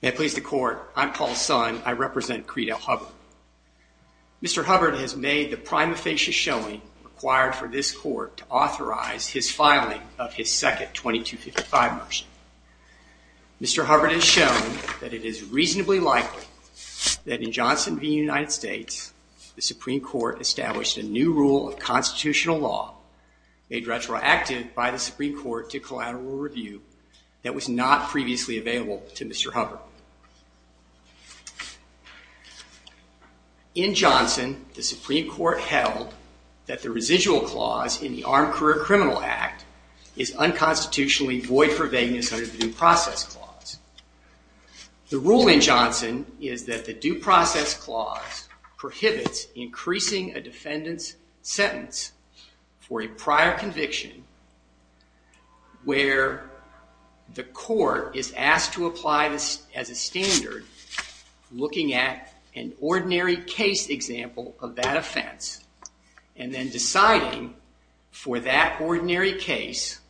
May it please the court, I'm Paul Sun, I represent Creadell Hubbard. Mr. Hubbard has made the prima facie showing required for this court to authorize his filing of his second 2255 motion. Mr. Hubbard has shown that it is reasonably likely that in Johnson v. United States, the law made retroactive by the Supreme Court to collateral review that was not previously available to Mr. Hubbard. In Johnson, the Supreme Court held that the residual clause in the Armed Career Criminal Act is unconstitutionally void for vagueness under the Due Process Clause. The rule in Johnson is that the Due Process Clause prohibits increasing a defendant's sentence for a prior conviction where the court is asked to apply this as a standard looking at an ordinary case example of that offense and then deciding for that ordinary case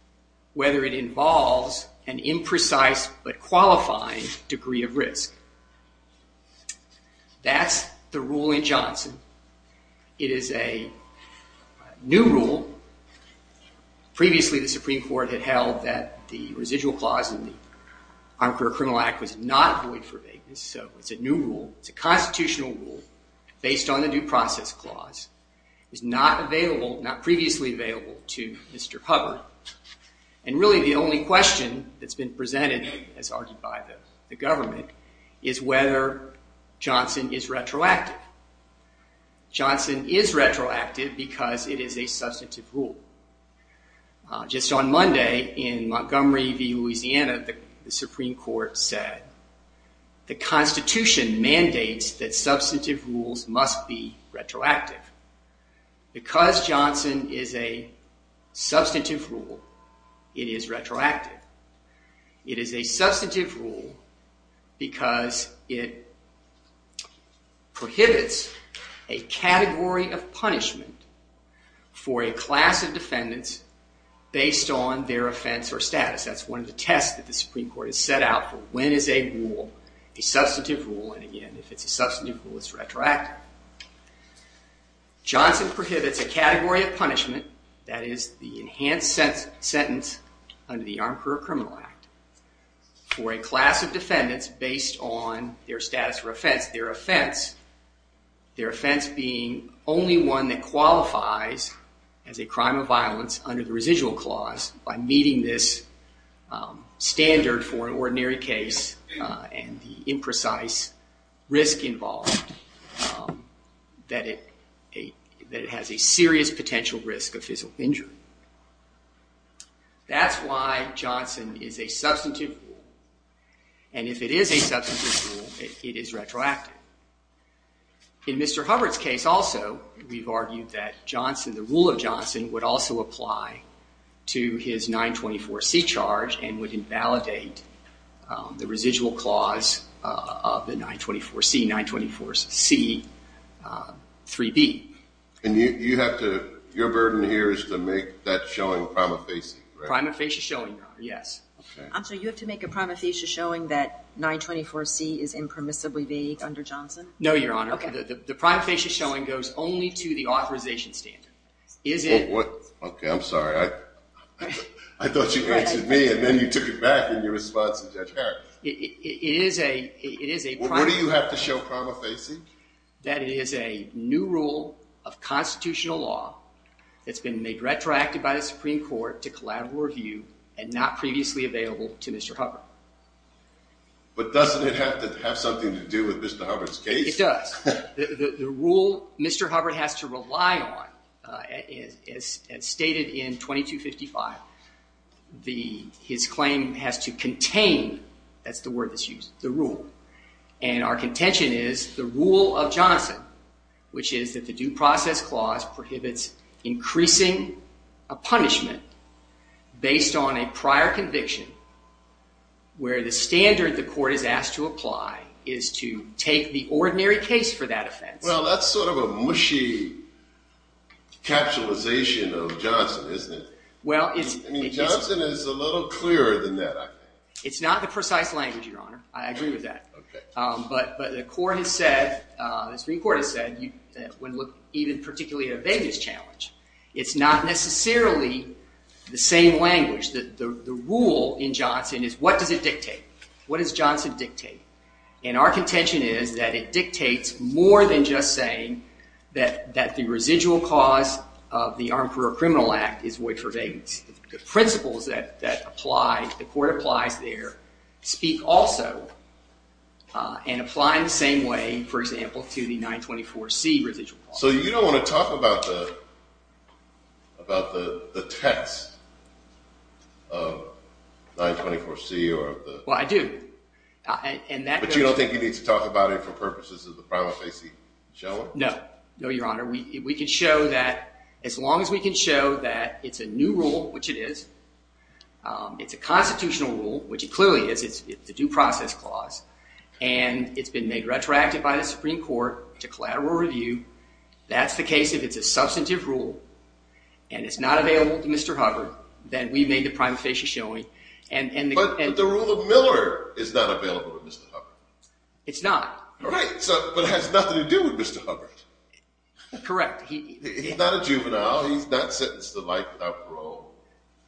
whether it involves an imprecise but qualifying degree of risk. That's the rule in Johnson. It is a new rule. Previously the Supreme Court had held that the residual clause in the Armed Career Criminal Act was not void for vagueness, so it's a new rule, it's a constitutional rule based on the Due Process Clause, is not previously available to Mr. Hubbard, and really the only question that's been presented as argued by the government is whether Johnson is retroactive. Johnson is retroactive because it is a substantive rule. Just on Monday in Montgomery v. Louisiana, the Supreme Court said, the Constitution mandates that substantive rules must be retroactive. Because Johnson is a substantive rule, it is retroactive. It is a substantive rule because it prohibits a category of punishment for a class of defendants based on their offense or status. That's one of the tests that the Supreme Court has set out for when is a rule, a substantive rule, and again, if it's a substantive rule, it's retroactive. Johnson prohibits a category of punishment, that is the enhanced sentence under the Armed Career Criminal Act, for a class of defendants based on their status or offense, their offense being only one that qualifies as a crime of violence under the residual clause by meeting this standard for an ordinary case and the imprecise risk involved that it has a serious potential risk of physical injury. That's why Johnson is a substantive rule, and if it is a substantive rule, it is retroactive. In Mr. Hubbard's case also, we've argued that Johnson, the rule of Johnson, would also apply to his 924C charge and would invalidate the residual clause of the 924C, 924C 3B. And you have to, your burden here is to make that showing prima facie, right? Prima facie showing, yes. I'm sorry, you have to make a prima facie showing that 924C is impermissibly vague under Johnson? No, Your Honor. The prima facie showing goes only to the authorization standard. Is it- Okay, I'm sorry. I thought you answered me, and then you took it back in your response to Judge Harris. It is a- What do you have to show prima facie? That it is a new rule of constitutional law that's been made retroactive by the Supreme Court to collateral review and not previously available to Mr. Hubbard. But doesn't it have to have something to do with Mr. Hubbard's case? It does. The rule Mr. Hubbard has to rely on, as stated in 2255, his claim has to contain, that's the word that's used, the rule. And our contention is the rule of Johnson, which is that the due process clause prohibits increasing a punishment based on a prior conviction where the standard the court is asked to apply is to take the ordinary case for that offense. Well, that's sort of a mushy capsulization of Johnson, isn't it? Well, it's- I mean, Johnson is a little clearer than that, I think. It's not the precise language, Your Honor. I agree with that. Okay. Um, but, but the court has said, uh, the Supreme Court has said you, uh, wouldn't look even particularly at a vagueness challenge. What does Johnson dictate? And our contention is that it dictates more than just saying that, that the residual cause of the Armed Career Criminal Act is void for vagueness. The principles that, that apply, the court applies there, speak also, uh, and apply in the same way, for example, to the 924C residual clause. So you don't want to talk about the, about the, the text of 924C or of the- Well, I do. I, and that- But you don't think you need to talk about it for purposes of the prima facie, shall we? No. No, Your Honor. We, we can show that, as long as we can show that it's a new rule, which it is, um, it's a constitutional rule, which it clearly is, it's, it's a due process clause, and it's been made retroactive by the Supreme Court to collateral review, that's the case if it's a substantive rule, and it's not available to Mr. Hubbard, then we've made the prima facie showing, and, and the- The killer is not available to Mr. Hubbard. It's not. Right. So, but it has nothing to do with Mr. Hubbard. Correct. He, he- He's not a juvenile. He's not sentenced to life without parole.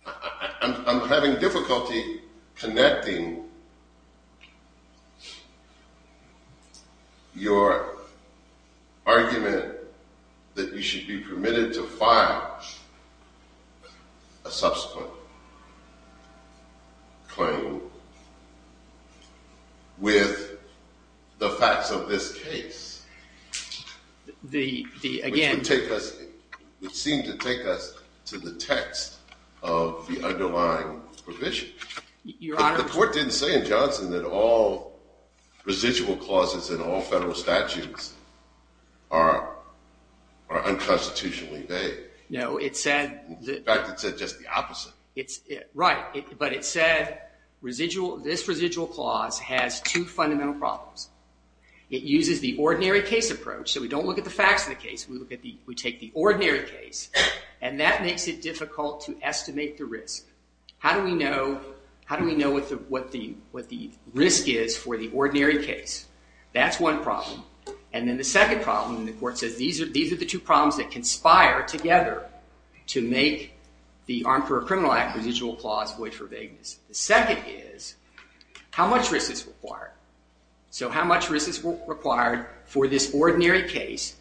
I, I, I'm, I'm having difficulty connecting your argument that you should be permitted to file a subsequent claim with the facts of this case. The, the, again- Which would take us, would seem to take us to the text of the underlying provision. Your Honor- The court didn't say in Johnson that all residual clauses in all federal statutes are, are unconstitutionally No. It said- In fact, it said just the opposite. It's, it, right. It, but it said residual, this residual clause has two fundamental problems. It uses the ordinary case approach, so we don't look at the facts of the case, we look at the, we take the ordinary case, and that makes it difficult to estimate the risk. How do we know, how do we know what the, what the, what the risk is for the ordinary case? That's one problem. And then the second problem, the court says, these are, these are the two problems that conspire together to make the Armed for a Criminal Act residual clause void for vagueness. The second is, how much risk is required? So how much risk is required for this ordinary case?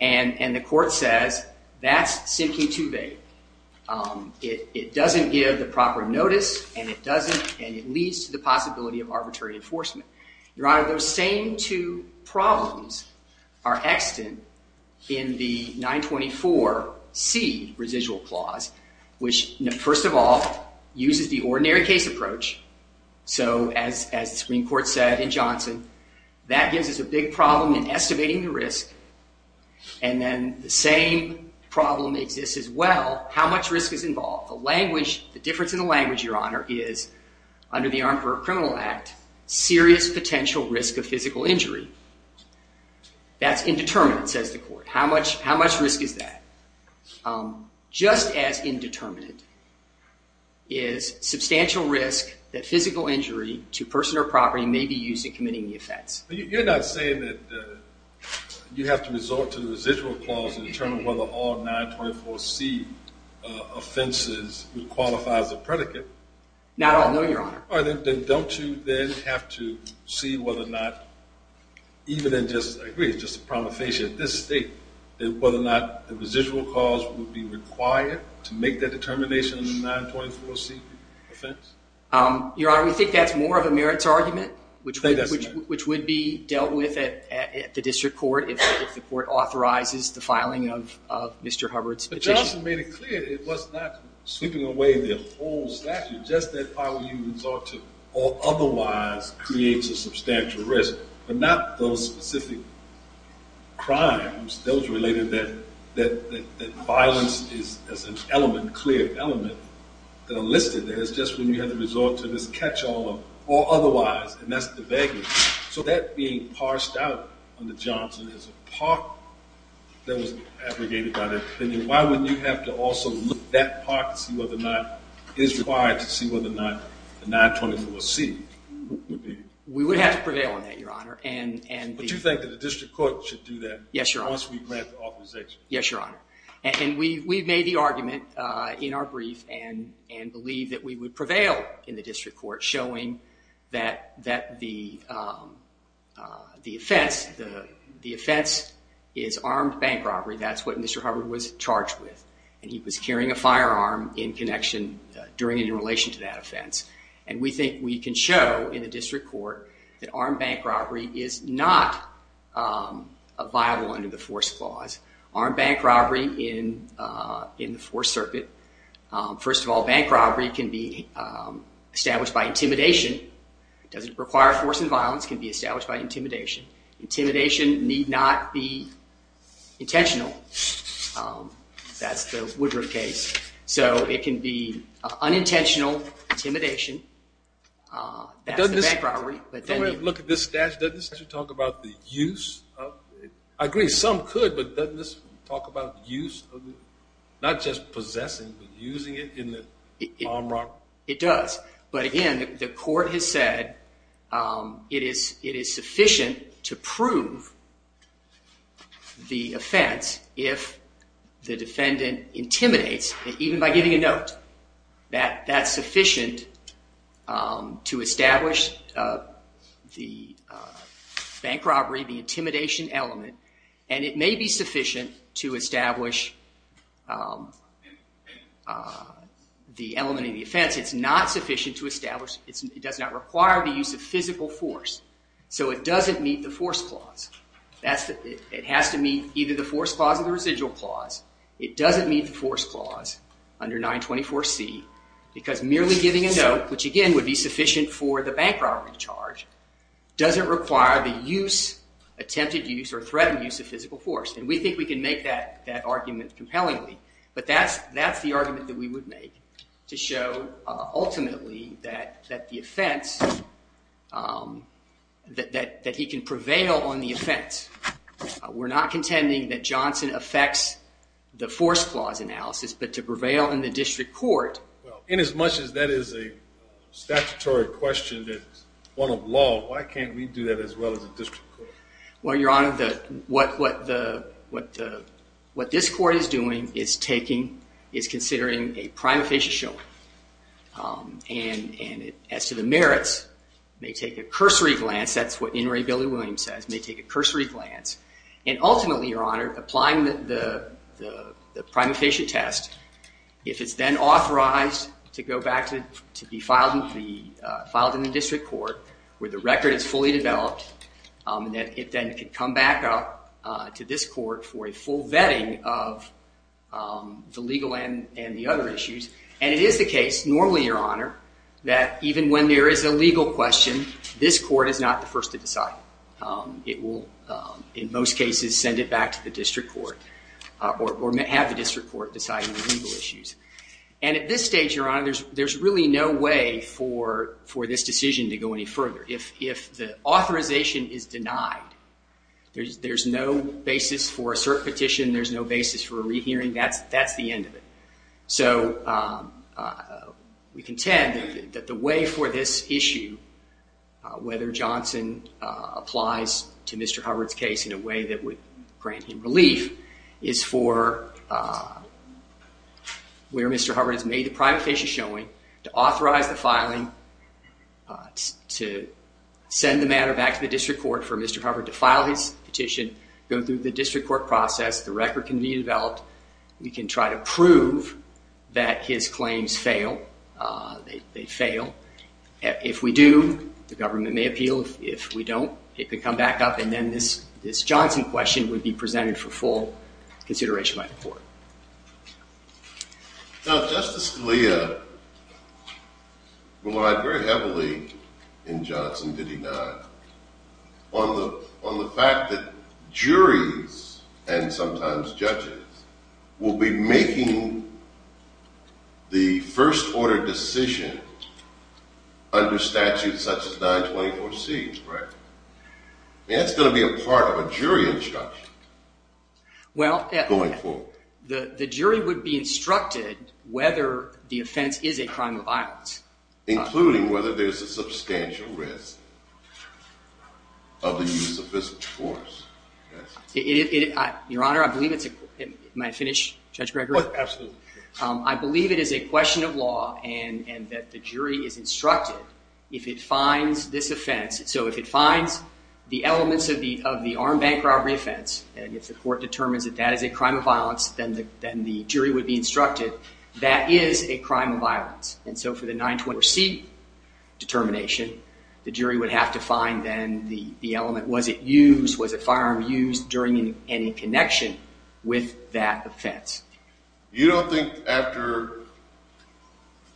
And the court says, that's simply too vague. It doesn't give the proper notice, and it doesn't, and it leads to the possibility of arbitrary enforcement. Your Honor, those same two problems are extant in the 924C residual clause, which, first of all, uses the ordinary case approach. So as, as the Supreme Court said in Johnson, that gives us a big problem in estimating the risk. And then the same problem exists as well, how much risk is involved? The language, the difference in the language, Your Honor, is under the Armed for a Criminal Act, serious potential risk of physical injury. That's indeterminate, says the court. How much, how much risk is that? Just as indeterminate is substantial risk that physical injury to person or property may be used in committing the offense. You're not saying that you have to resort to the residual clause in terms of whether all 924C offenses would qualify as a predicate? Not all, no, Your Honor. All right, then don't you then have to see whether or not, even in just, I agree, it's just a promethasia at this state, that whether or not the residual clause would be required to make that determination in a 924C offense? Your Honor, we think that's more of a merits argument, which would be dealt with at the district court if the court authorizes the filing of Mr. Hubbard's petition. But Johnson made it clear it was not sweeping away the whole statute. Just that part where you resort to or otherwise creates a substantial risk, but not those specific crimes, those related that violence is an element, clear element, that are listed there. It's just when you have to resort to this catch-all or otherwise, and that's the vagueness. So that being parsed out under Johnson is a part that was abrogated by the opinion. Why wouldn't you have to also look at that part to see whether or not it is required to see whether or not the 924C would be? We would have to prevail on that, Your Honor. But you think that the district court should do that? Yes, Your Honor. Once we grant the authorization. Yes, Your Honor. And we've made the argument in our brief and believe that we would prevail in the district court showing that the offense is armed bank robbery. That's what Mr. Hubbard was charged with, and he was carrying a firearm in connection during and in relation to that offense. And we think we can show in the district court that armed bank robbery is not a viable under the force clause. Armed bank robbery in the fourth circuit, first of all, bank robbery can be established by intimidation. It doesn't require force and violence, can be established by intimidation. Intimidation need not be intentional. That's the Woodruff case. So it can be unintentional intimidation. That's the bank robbery. Doesn't this, when we look at this statute, doesn't this talk about the use of, I agree some could, but doesn't this talk about the use of, not just possessing, but using it in the armed robbery? It does. But again, the court has said it is sufficient to prove the offense if the defendant intimidates, even by giving a note, that that's sufficient to establish the bank robbery, the intimidation element, and it may be sufficient to establish the element of the offense. It's not sufficient to establish, it does not require the use of physical force. So it doesn't meet the force clause. It has to meet either the force clause or the residual clause. It doesn't meet the force clause under 924C, because merely giving a note, which again would be sufficient for the bank robbery charge, doesn't require the use, attempted use, or threatened use of physical force. And we think we can make that argument compellingly, but that's the argument that we would make to show ultimately that the offense, that he can prevail on the offense. We're not contending that Johnson affects the force clause analysis, but to prevail in the district court. In as much as that is a statutory question that's one of law, why can't we do that as well as the district court? Well, Your Honor, what this court is doing is taking, is considering a prima facie showing. And as to the merits, may take a cursory glance, that's what Inouye Billy-Williams says, may take a cursory glance, and ultimately, Your Honor, applying the prima facie test, if it's then authorized to go back to be filed in the district court, where the record is fully developed, that it then could come back up to this court for a full vetting of the legal and the other issues. And it is the case, normally, Your Honor, that even when there is a legal question, this court is not the first to decide. It will, in most cases, send it back to the district court, or have the district court decide on the legal issues. And at this stage, Your Honor, there's really no way for this decision to go any further. If the authorization is denied, there's no basis for a cert petition, there's no basis for a rehearing, that's the end of it. So we contend that the way for this issue, whether Johnson applies to Mr. Hubbard's case in a way that would grant him relief, is for where Mr. Hubbard has made the prima facie showing, to authorize the filing, to send the matter back to the district court for Mr. Hubbard to file his petition, go through the district court process, the record can be developed, we can try to prove that his claims fail, they fail. If we do, the government may appeal. If we don't, it could come back up and then this Johnson question would be presented for full consideration by the court. Now Justice Scalia relied very heavily in Johnson, did he not, on the fact that juries and sometimes judges will be making the first order decision under statutes such as 924C. That's going to be a part of a jury instruction going forward. The jury would be instructed whether the offense is a crime of violence. Including whether there's a substantial risk of the use of this force. Your Honor, I believe it's a question of law and that the jury is instructed if it finds this offense, so if it finds the elements of the armed bank robbery offense and if the jury would be instructed that is a crime of violence. And so for the 924C determination, the jury would have to find then the element. Was it used? Was a firearm used during any connection with that offense? You don't think after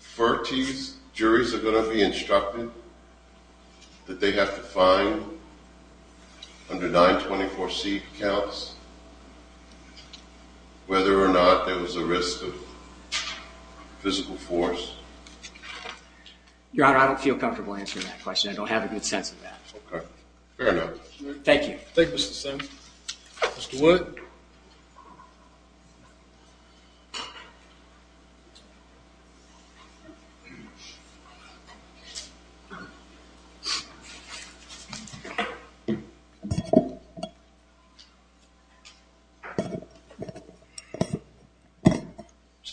40 juries are going to be instructed that they have to find under 924C counts whether or not there was a risk of physical force? Your Honor, I don't feel comfortable answering that question. I don't have a good sense of that. Okay, fair enough. Thank you. Thank you Mr. Simmons. Mr. Wood?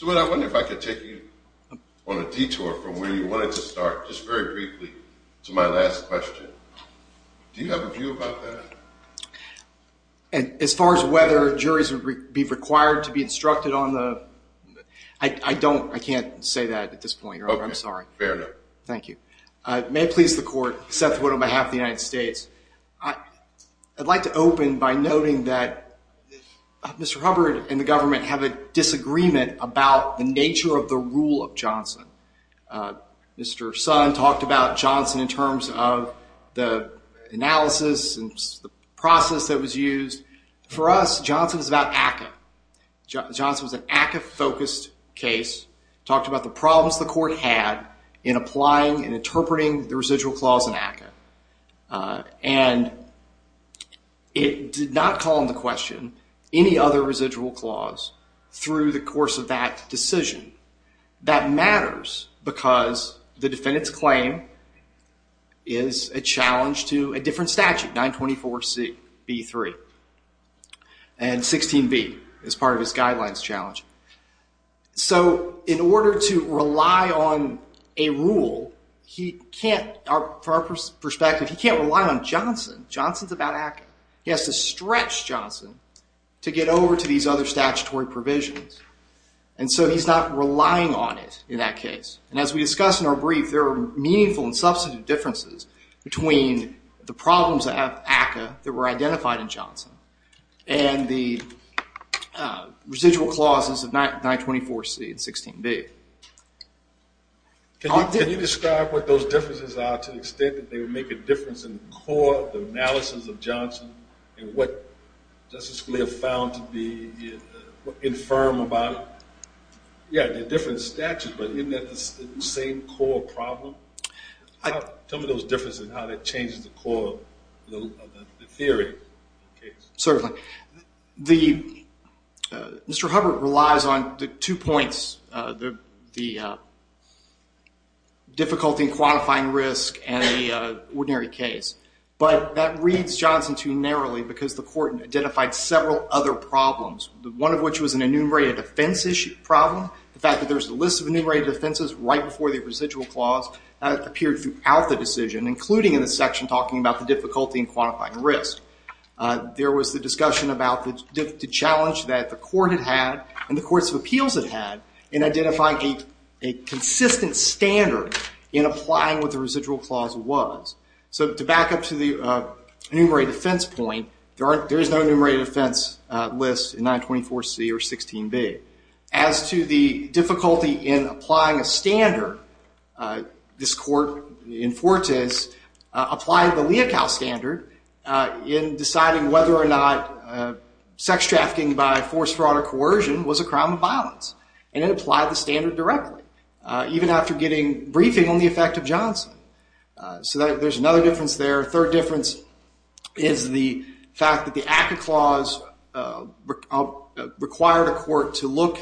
Mr. Wood, I wonder if I could take you on a detour from where you wanted to start just very briefly to my last question. Do you have a view about that? As far as whether juries would be required to be instructed on the, I don't, I can't say that at this point, Your Honor. I'm sorry. Okay, fair enough. Thank you. May it please the court, Seth Wood on behalf of the United States. I'd like to open by noting that Mr. Hubbard and the government have a disagreement about the nature of the rule of Johnson. Mr. Sun talked about Johnson in terms of the analysis and the process that was used. For us, Johnson was about ACCA. Johnson was an ACCA focused case, talked about the problems the court had in applying and it did not call into question any other residual clause through the course of that decision. That matters because the defendant's claim is a challenge to a different statute, 924Cb3. And 16b is part of his guidelines challenge. So in order to rely on a rule, he can't, from our perspective, he can't rely on Johnson. Johnson's about ACCA. He has to stretch Johnson to get over to these other statutory provisions. And so he's not relying on it in that case. And as we discussed in our brief, there are meaningful and substantive differences between the problems of ACCA that were identified in Johnson and the residual clauses of 924C and 16b. Can you describe what those differences are to the extent that they would make a difference in the core of the analysis of Johnson and what Justice Scalia found to be infirm about it? Yeah, they're different statutes, but isn't that the same core problem? Tell me those differences and how that changes the core of the theory of the case. Certainly. Mr. Hubbard relies on the two points, the difficulty in quantifying risk and the ordinary case. But that reads Johnson too narrowly because the court identified several other problems, one of which was an enumerated offense issue problem, the fact that there's a list of enumerated offenses right before the residual clause appeared throughout the decision, including in the section talking about the difficulty in quantifying risk. There was the discussion about the challenge that the court had had and the courts of appeals had had in identifying a consistent standard in applying what the residual clause was. So to back up to the enumerated offense point, there is no enumerated offense list in 924C or 16b. As to the difficulty in applying a standard, this court in Fortes applied the Leocal standard in deciding whether or not sex trafficking by force, fraud, or coercion was a crime of violence. And it applied the standard directly, even after getting briefing on the effect of Johnson. So there's another difference there. A third difference is the fact that the ACCA clause required a court to look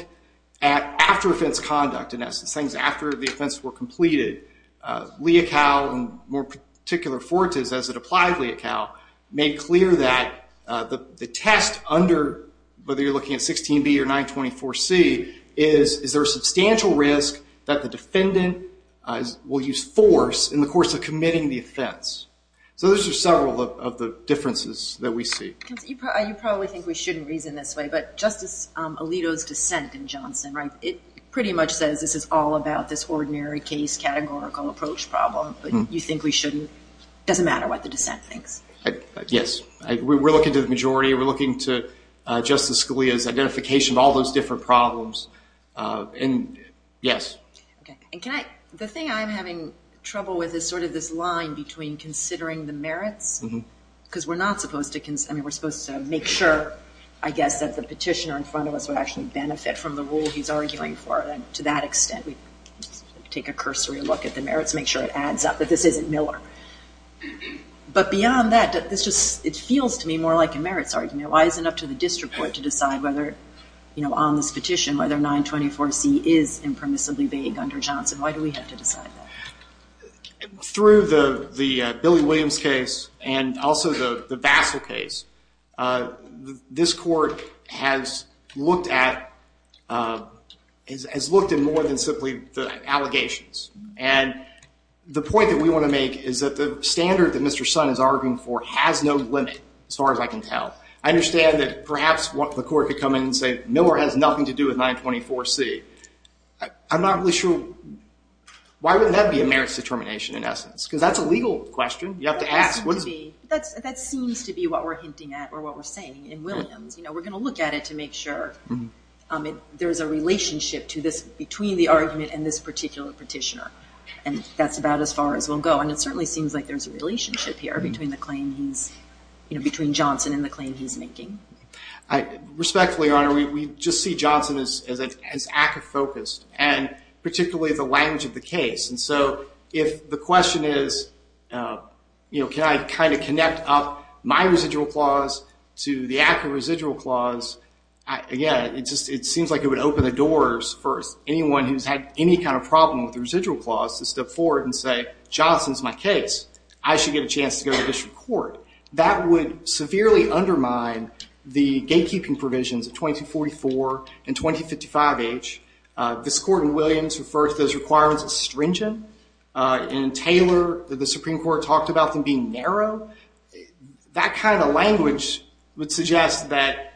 at after offense conduct, in essence, things after the offense were completed. Leocal, in more particular Fortes, as it applied Leocal, made clear that the test under, whether you're looking at 16b or 924C, is there a substantial risk that the defendant will use force in the course of committing the offense. So those are several of the differences that we see. You probably think we shouldn't reason this way, but Justice Alito's dissent in Johnson, right, it pretty much says this is all about this ordinary case categorical approach problem, but you think we shouldn't, it doesn't matter what the dissent thinks. Yes. We're looking to the majority. We're looking to Justice Scalia's identification of all those different problems. And, yes. The thing I'm having trouble with is sort of this line between considering the merits, because we're not supposed to, I mean, we're supposed to make sure, I guess, that the petitioner in front of us would actually benefit from the rule he's arguing for, and to that extent we take a cursory look at the merits, make sure it adds up, that this isn't Miller. But beyond that, it feels to me more like a merits argument. Why is it up to the district court to decide whether, you know, on this petition, whether 924C is impermissibly vague under Johnson? Why do we have to decide that? Through the Billy Williams case and also the Bassel case, this court has looked at more than simply the allegations. And the point that we want to make is that the standard that Mr. Sun is arguing for has no limit, as far as I can tell. I understand that perhaps the court could come in and say Miller has nothing to do with 924C. I'm not really sure. Why wouldn't that be a merits determination in essence? Because that's a legal question. You have to ask. That seems to be what we're hinting at or what we're saying in Williams. You know, we're going to look at it to make sure there's a relationship to this, between the argument and this particular petitioner. And that's about as far as we'll go. And it certainly seems like there's a relationship here between the claim he's, you know, between Johnson and the claim he's making. Respectfully, Your Honor, we just see Johnson as ACCA-focused, and particularly the language of the case. And so if the question is, you know, can I kind of connect up my residual clause to the ACCA residual clause, again, it seems like it would open the doors for anyone who's had any kind of problem with the residual clause to step forward and say, Johnson's my case. I should get a chance to go to district court. That would severely undermine the gatekeeping provisions of 2244 and 2055H. This Court in Williams refers to those requirements as stringent. In Taylor, the Supreme Court talked about them being narrow. That kind of language would suggest that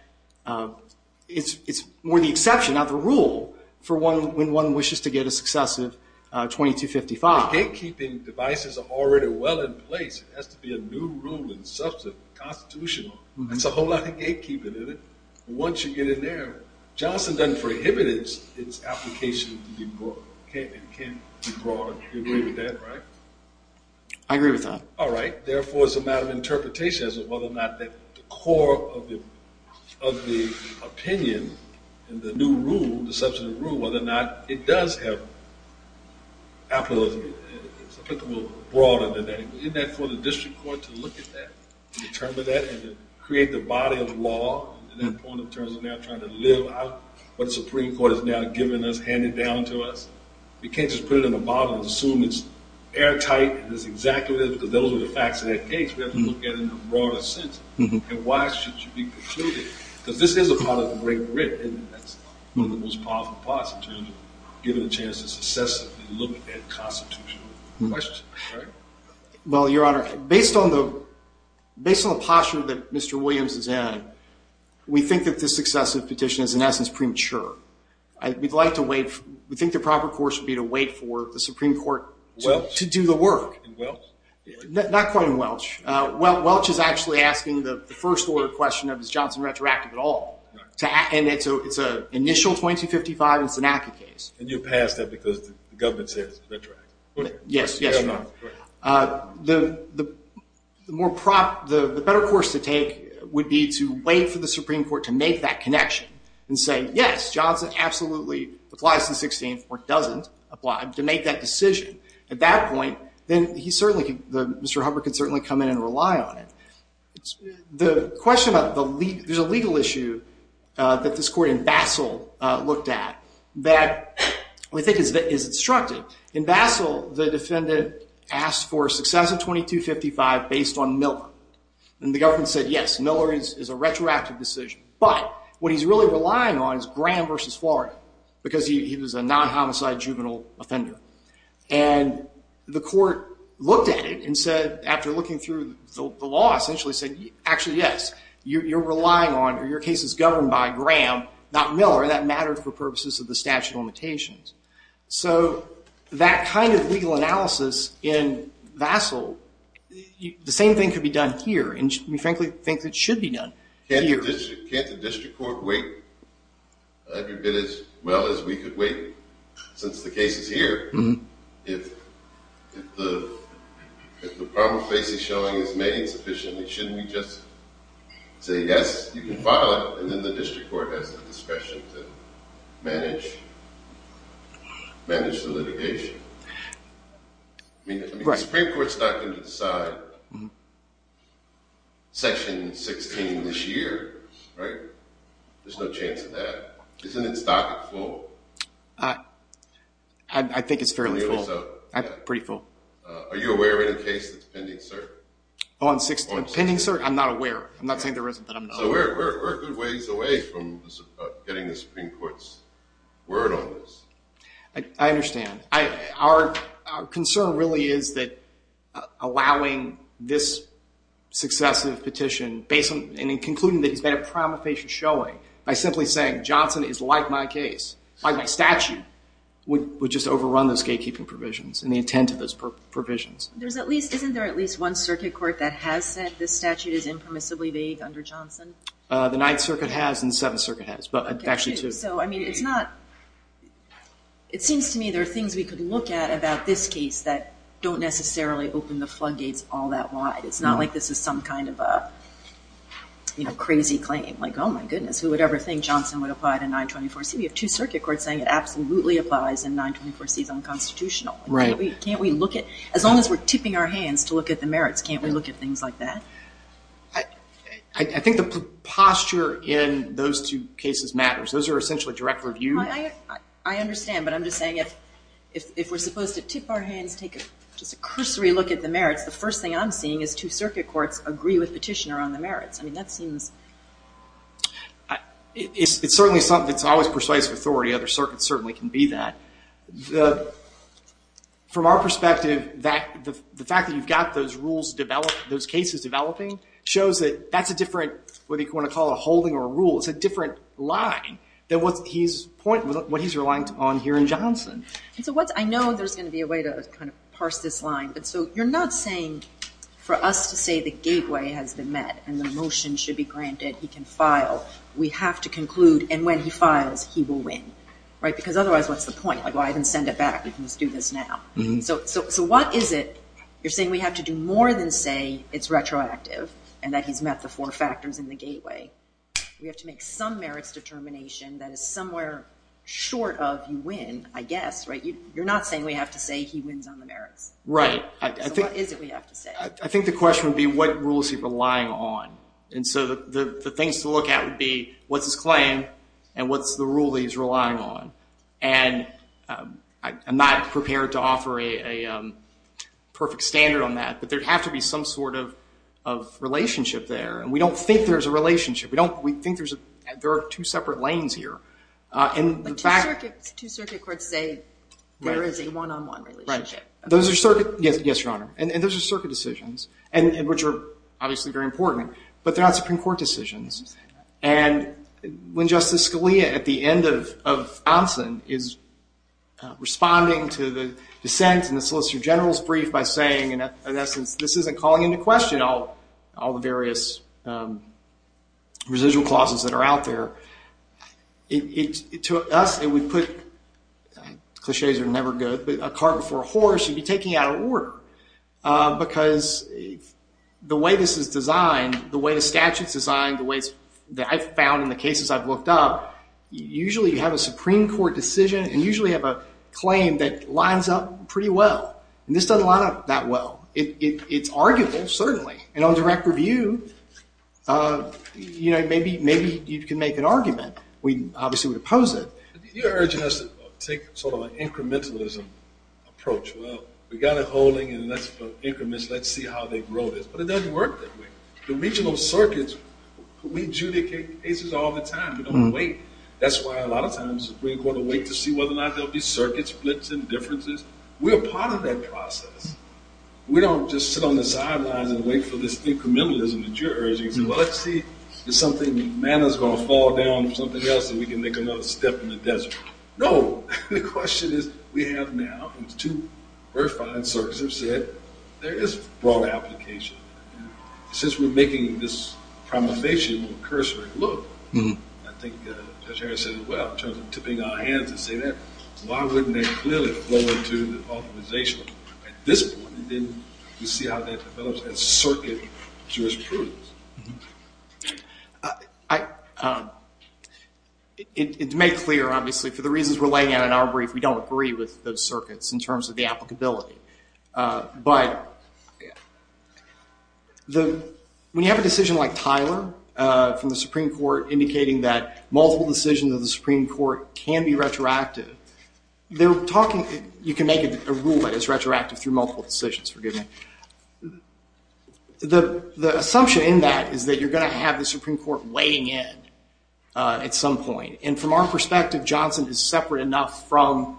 it's more the exception, not the rule, for when one wishes to get a successive 2255. Gatekeeping devices are already well in place. It has to be a new rule in substance, constitutional. That's a whole lot of gatekeeping in it. Once you get in there, Johnson doesn't prohibit its application to be broad. It can't be broad. You agree with that, right? I agree with that. All right. Therefore, it's a matter of interpretation as to whether or not the core of the opinion and the new rule, the substantive rule, whether or not it does have applicable or broader than that. Isn't that for the district court to look at that and determine that and create the body of law in that point in terms of now trying to live out what the Supreme Court has now given us, handed down to us? You can't just put it in a bottle and assume it's airtight and that's exactly it because those are the facts of that case. We have to look at it in a broader sense. And why should you be precluded? Because this is a part of the great writ, and that's one of the most powerful parts in terms of giving a chance to successively look at that constitutional question. Well, Your Honor, based on the posture that Mr. Williams is in, we think that this successive petition is in essence premature. We'd like to wait. We think the proper course would be to wait for the Supreme Court to do the work. In Welch? Not quite in Welch. Welch is actually asking the first-order question of is Johnson retroactive at all. And it's an initial 2255 and Sinaki case. And you passed that because the government says it's retroactive. Yes, Your Honor. The better course to take would be to wait for the Supreme Court to make that connection and say, yes, Johnson absolutely applies to the 16th or doesn't apply, to make that decision. At that point, Mr. Hubbard could certainly come in and rely on it. The question about the legal issue that this court in Basel looked at that we think is instructive. In Basel, the defendant asked for successive 2255 based on Miller. And the government said, yes, Miller is a retroactive decision. But what he's really relying on is Graham v. Florida because he was a non-homicide juvenile offender. And the court looked at it and said, after looking through the law, essentially said, actually, yes, you're relying on or your case is governed by Graham, not Miller, and that mattered for purposes of the statute of limitations. So that kind of legal analysis in Basel, the same thing could be done here. And we frankly think it should be done here. Can't the district court wait? I haven't been as well as we could wait since the case is here. If the problem facing showing is made insufficiently, shouldn't we just say, yes, you can file it, and then the district court has the discretion to manage the litigation? I mean, the Supreme Court is not going to decide Section 16 this year, right? There's no chance of that. Isn't its docket full? I think it's fairly full. Pretty full. Are you aware of any case that's pending, sir? Pending, sir? I'm not aware. I'm not saying there isn't, but I'm not aware. So we're a good ways away from getting the Supreme Court's word on this. I understand. Our concern really is that allowing this successive petition, and concluding that he's got a problem facing showing, by simply saying Johnson is like my case, like my statute, would just overrun those gatekeeping provisions and the intent of those provisions. Isn't there at least one circuit court that has said this statute is impermissibly vague under Johnson? The Ninth Circuit has and the Seventh Circuit has, but actually two. It seems to me there are things we could look at about this case that don't necessarily open the floodgates all that wide. It's not like this is some kind of crazy claim. Like, oh my goodness, who would ever think Johnson would apply to 924C? We have two circuit courts saying it absolutely applies and 924C is unconstitutional. As long as we're tipping our hands to look at the merits, can't we look at things like that? I think the posture in those two cases matters. Those are essentially direct review. I understand, but I'm just saying if we're supposed to tip our hands, take just a cursory look at the merits, the first thing I'm seeing is two circuit courts agree with petitioner on the merits. I mean, that seems... It's certainly something that's always persuasive authority. Other circuits certainly can be that. From our perspective, the fact that you've got those cases developing shows that that's a different what you want to call a holding or a rule. It's a different line than what he's relying on here in Johnson. I know there's going to be a way to kind of parse this line, but so you're not saying for us to say the gateway has been met and the motion should be granted, he can file. We have to conclude, and when he files, he will win. Because otherwise, what's the point? I can send it back. You can just do this now. So what is it you're saying we have to do more than say it's retroactive and that he's met the four factors in the gateway? We have to make some merits determination that is somewhere short of you win, I guess. You're not saying we have to say he wins on the merits. So what is it we have to say? I think the question would be what rules he's relying on. And so the things to look at would be what's his claim and what's the rule he's relying on. And I'm not prepared to offer a perfect standard on that, but there'd have to be some sort of relationship there. And we don't think there's a relationship. We think there are two separate lanes here. But two circuit courts say there is a one-on-one relationship. Yes, Your Honor, and those are circuit decisions, which are obviously very important, but they're not Supreme Court decisions. And when Justice Scalia, at the end of Anson, is responding to the dissent in the Solicitor General's brief by saying, in essence, this isn't calling into question all the various residual clauses that are out there, to us it would put, clichés are never good, but a cart before a horse, you'd be taking out of order. Because the way this is designed, the way the statute's designed, the way that I've found in the cases I've looked up, usually you have a Supreme Court decision and usually have a claim that lines up pretty well. And this doesn't line up that well. It's arguable, certainly. And on direct review, maybe you can make an argument. We obviously would oppose it. You're urging us to take sort of an incrementalism approach. Well, we've got it holding, and let's see how they grow this. But it doesn't work that way. The regional circuits, we adjudicate cases all the time. We don't wait. That's why a lot of times the Supreme Court will wait to see whether or not there will be circuit splits and differences. We're a part of that process. We don't just sit on the sidelines and wait for this incrementalism that you're urging. Well, let's see if something, manna's going to fall down or something else and we can make another step in the desert. No! The question is, we have now, and it's two verified circuits that have said, there is broad application. Since we're making this promulgation on cursory look, I think Judge Harris said it well in terms of tipping our hands and saying that, why wouldn't that clearly flow into the authorization? At this point, we see how that develops as circuit jurisprudence. It's made clear, obviously, for the reasons we're laying out in our brief, we don't agree with those circuits in terms of the applicability. But when you have a decision like Tyler from the Supreme Court indicating that multiple decisions of the Supreme Court can be retroactive, they're talking, you can make it a rule that it's retroactive through multiple decisions, forgive me. The assumption in that is that you're going to have the Supreme Court weighing in at some point. And from our perspective, Johnson is separate enough from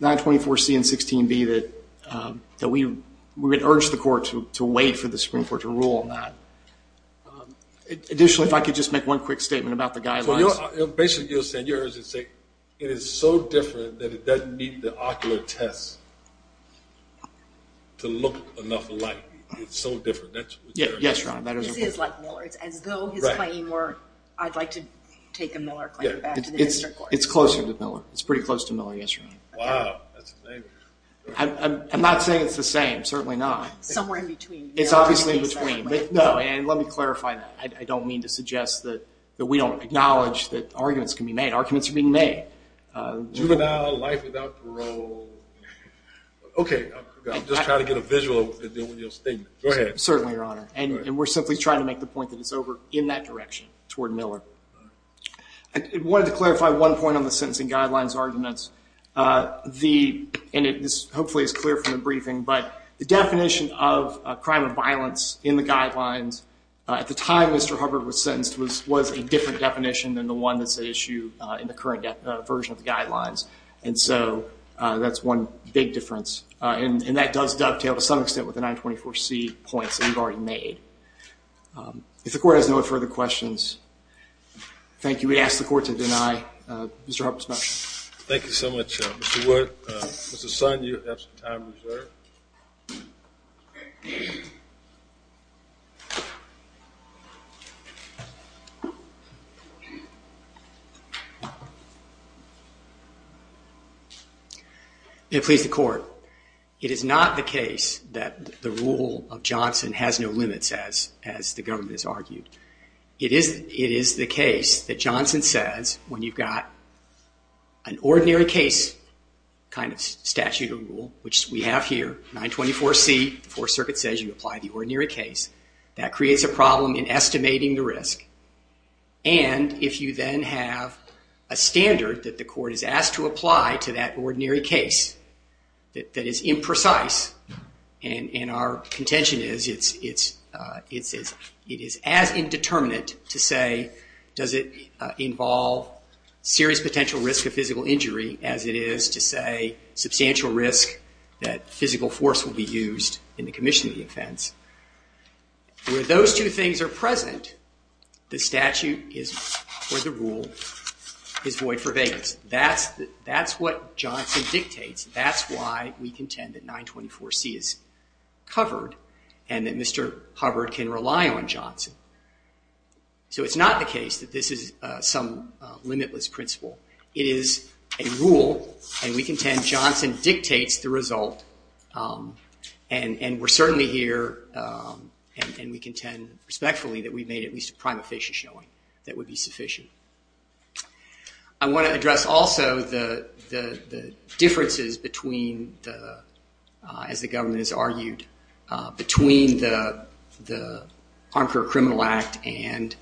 924C and 16B that we would urge the court to wait for the Supreme Court to rule on that. Additionally, if I could just make one quick statement about the guidelines. Basically, you're saying, it is so different that it doesn't meet the ocular test to look enough alike. It's so different. Yes, Your Honor. This is like Miller. It's as though his claim were, I'd like to take a Miller claim back to the district court. It's closer to Miller. It's pretty close to Miller, yes, Your Honor. Wow, that's amazing. I'm not saying it's the same. Certainly not. Somewhere in between. It's obviously in between. No, and let me clarify that. I don't mean to suggest that we don't acknowledge that arguments can be made. Arguments are being made. Juvenile life without parole. Okay, I'm just trying to get a visual of what you're saying. Go ahead. Certainly, Your Honor. And we're simply trying to make the point that it's over in that direction toward Miller. I wanted to clarify one point on the sentencing guidelines arguments. And this hopefully is clear from the briefing, but the definition of a crime of violence in the guidelines at the time Mr. Hubbard was sentenced was a different definition than the one that's at issue in the current version of the guidelines. And so that's one big difference. And that does dovetail to some extent with the 924C points that you've already made. If the court has no further questions, thank you. We ask the court to deny Mr. Hubbard's motion. Thank you so much, Mr. Wood. Mr. Son, you have some time reserved. May it please the court. It is not the case that the rule of Johnson has no limits, as the government has argued. It is the case that Johnson says when you've got an ordinary case kind of statute or rule, which we have here, 924C, that creates a statute of limitations and creates a problem in estimating the risk. And if you then have a standard that the court is asked to apply to that ordinary case that is imprecise, and our contention is it is as indeterminate to say does it involve serious potential risk of physical injury as it is to say substantial risk that physical force will be used in the commission of the offense. Where those two things are present, the statute or the rule is void for vagueness. That's what Johnson dictates. That's why we contend that 924C is covered and that Mr. Hubbard can rely on Johnson. So it's not the case that this is some limitless principle. It is a rule, and we contend Johnson dictates the result, and we're certainly here, and we contend respectfully that we've made at least a prima facie showing that would be sufficient. I want to address also the differences between the, as the government has argued, between the Armed Career Criminal Act and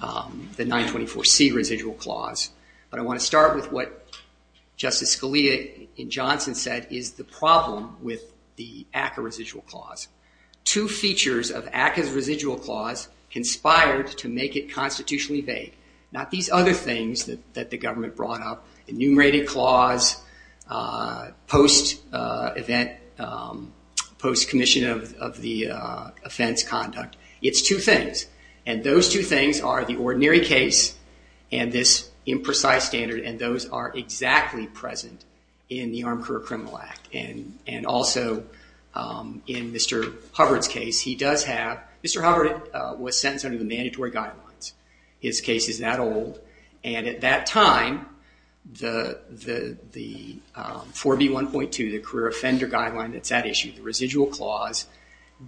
the 924C residual clause. But I want to start with what Justice Scalia in Johnson said is the problem with the ACCA residual clause. Two features of ACCA's residual clause conspired to make it constitutionally vague. Not these other things that the government brought up, enumerated clause, post-event, post-commission of the offense conduct. It's two things, and those two things are the ordinary case and this imprecise standard, and those are exactly present in the Armed Career Criminal Act. And also in Mr. Hubbard's case, he does have, Mr. Hubbard was sentenced under the mandatory guidelines. His case is that old. And at that time, the 4B1.2, the career offender guideline that's at issue, the residual clause, for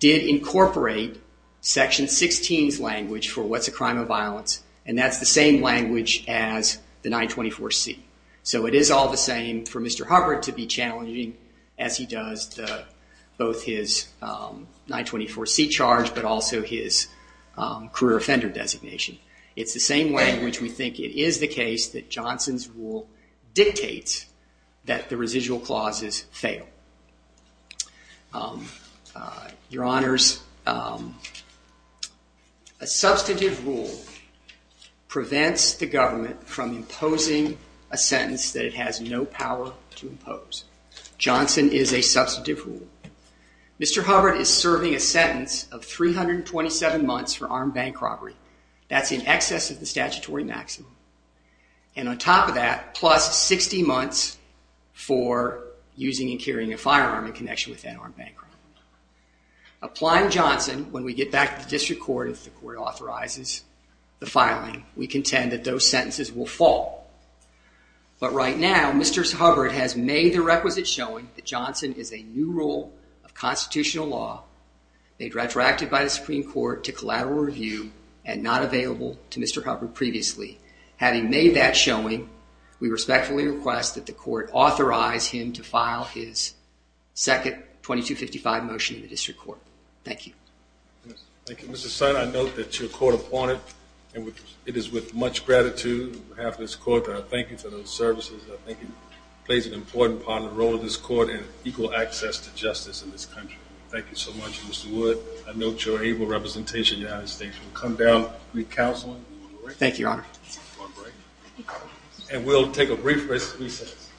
what's a crime of violence, and that's the same language as the 924C. So it is all the same for Mr. Hubbard to be challenging, as he does both his 924C charge, but also his career offender designation. It's the same way in which we think it is the case that Johnson's rule dictates that the residual clauses fail. Your Honors, a substantive rule prevents the government from imposing a sentence that it has no power to impose. Johnson is a substantive rule. Mr. Hubbard is serving a sentence of 327 months for armed bank robbery. That's in excess of the statutory maximum. And on top of that, plus 60 months for using and carrying a firearm in connection with an armed bank robbery. Applying Johnson, when we get back to the district court, if the court authorizes the filing, we contend that those sentences will fall. But right now, Mr. Hubbard has made the requisite showing that Johnson is a new rule of constitutional law made retroactive by the Supreme Court to collateral review and not available to Mr. Hubbard previously. Having made that showing, we respectfully request that the court authorize him to file his second 2255 motion in the district court. Thank you. Thank you, Mr. Son. I note that your court appointed. And it is with much gratitude on behalf of this court that I thank you for those services. I think it plays an important part in the role of this court in equal access to justice in this country. Thank you so much, Mr. Wood. I note your able representation in the United States. We'll come down, recounseling. Thank you, Your Honor. And we'll take a brief recess.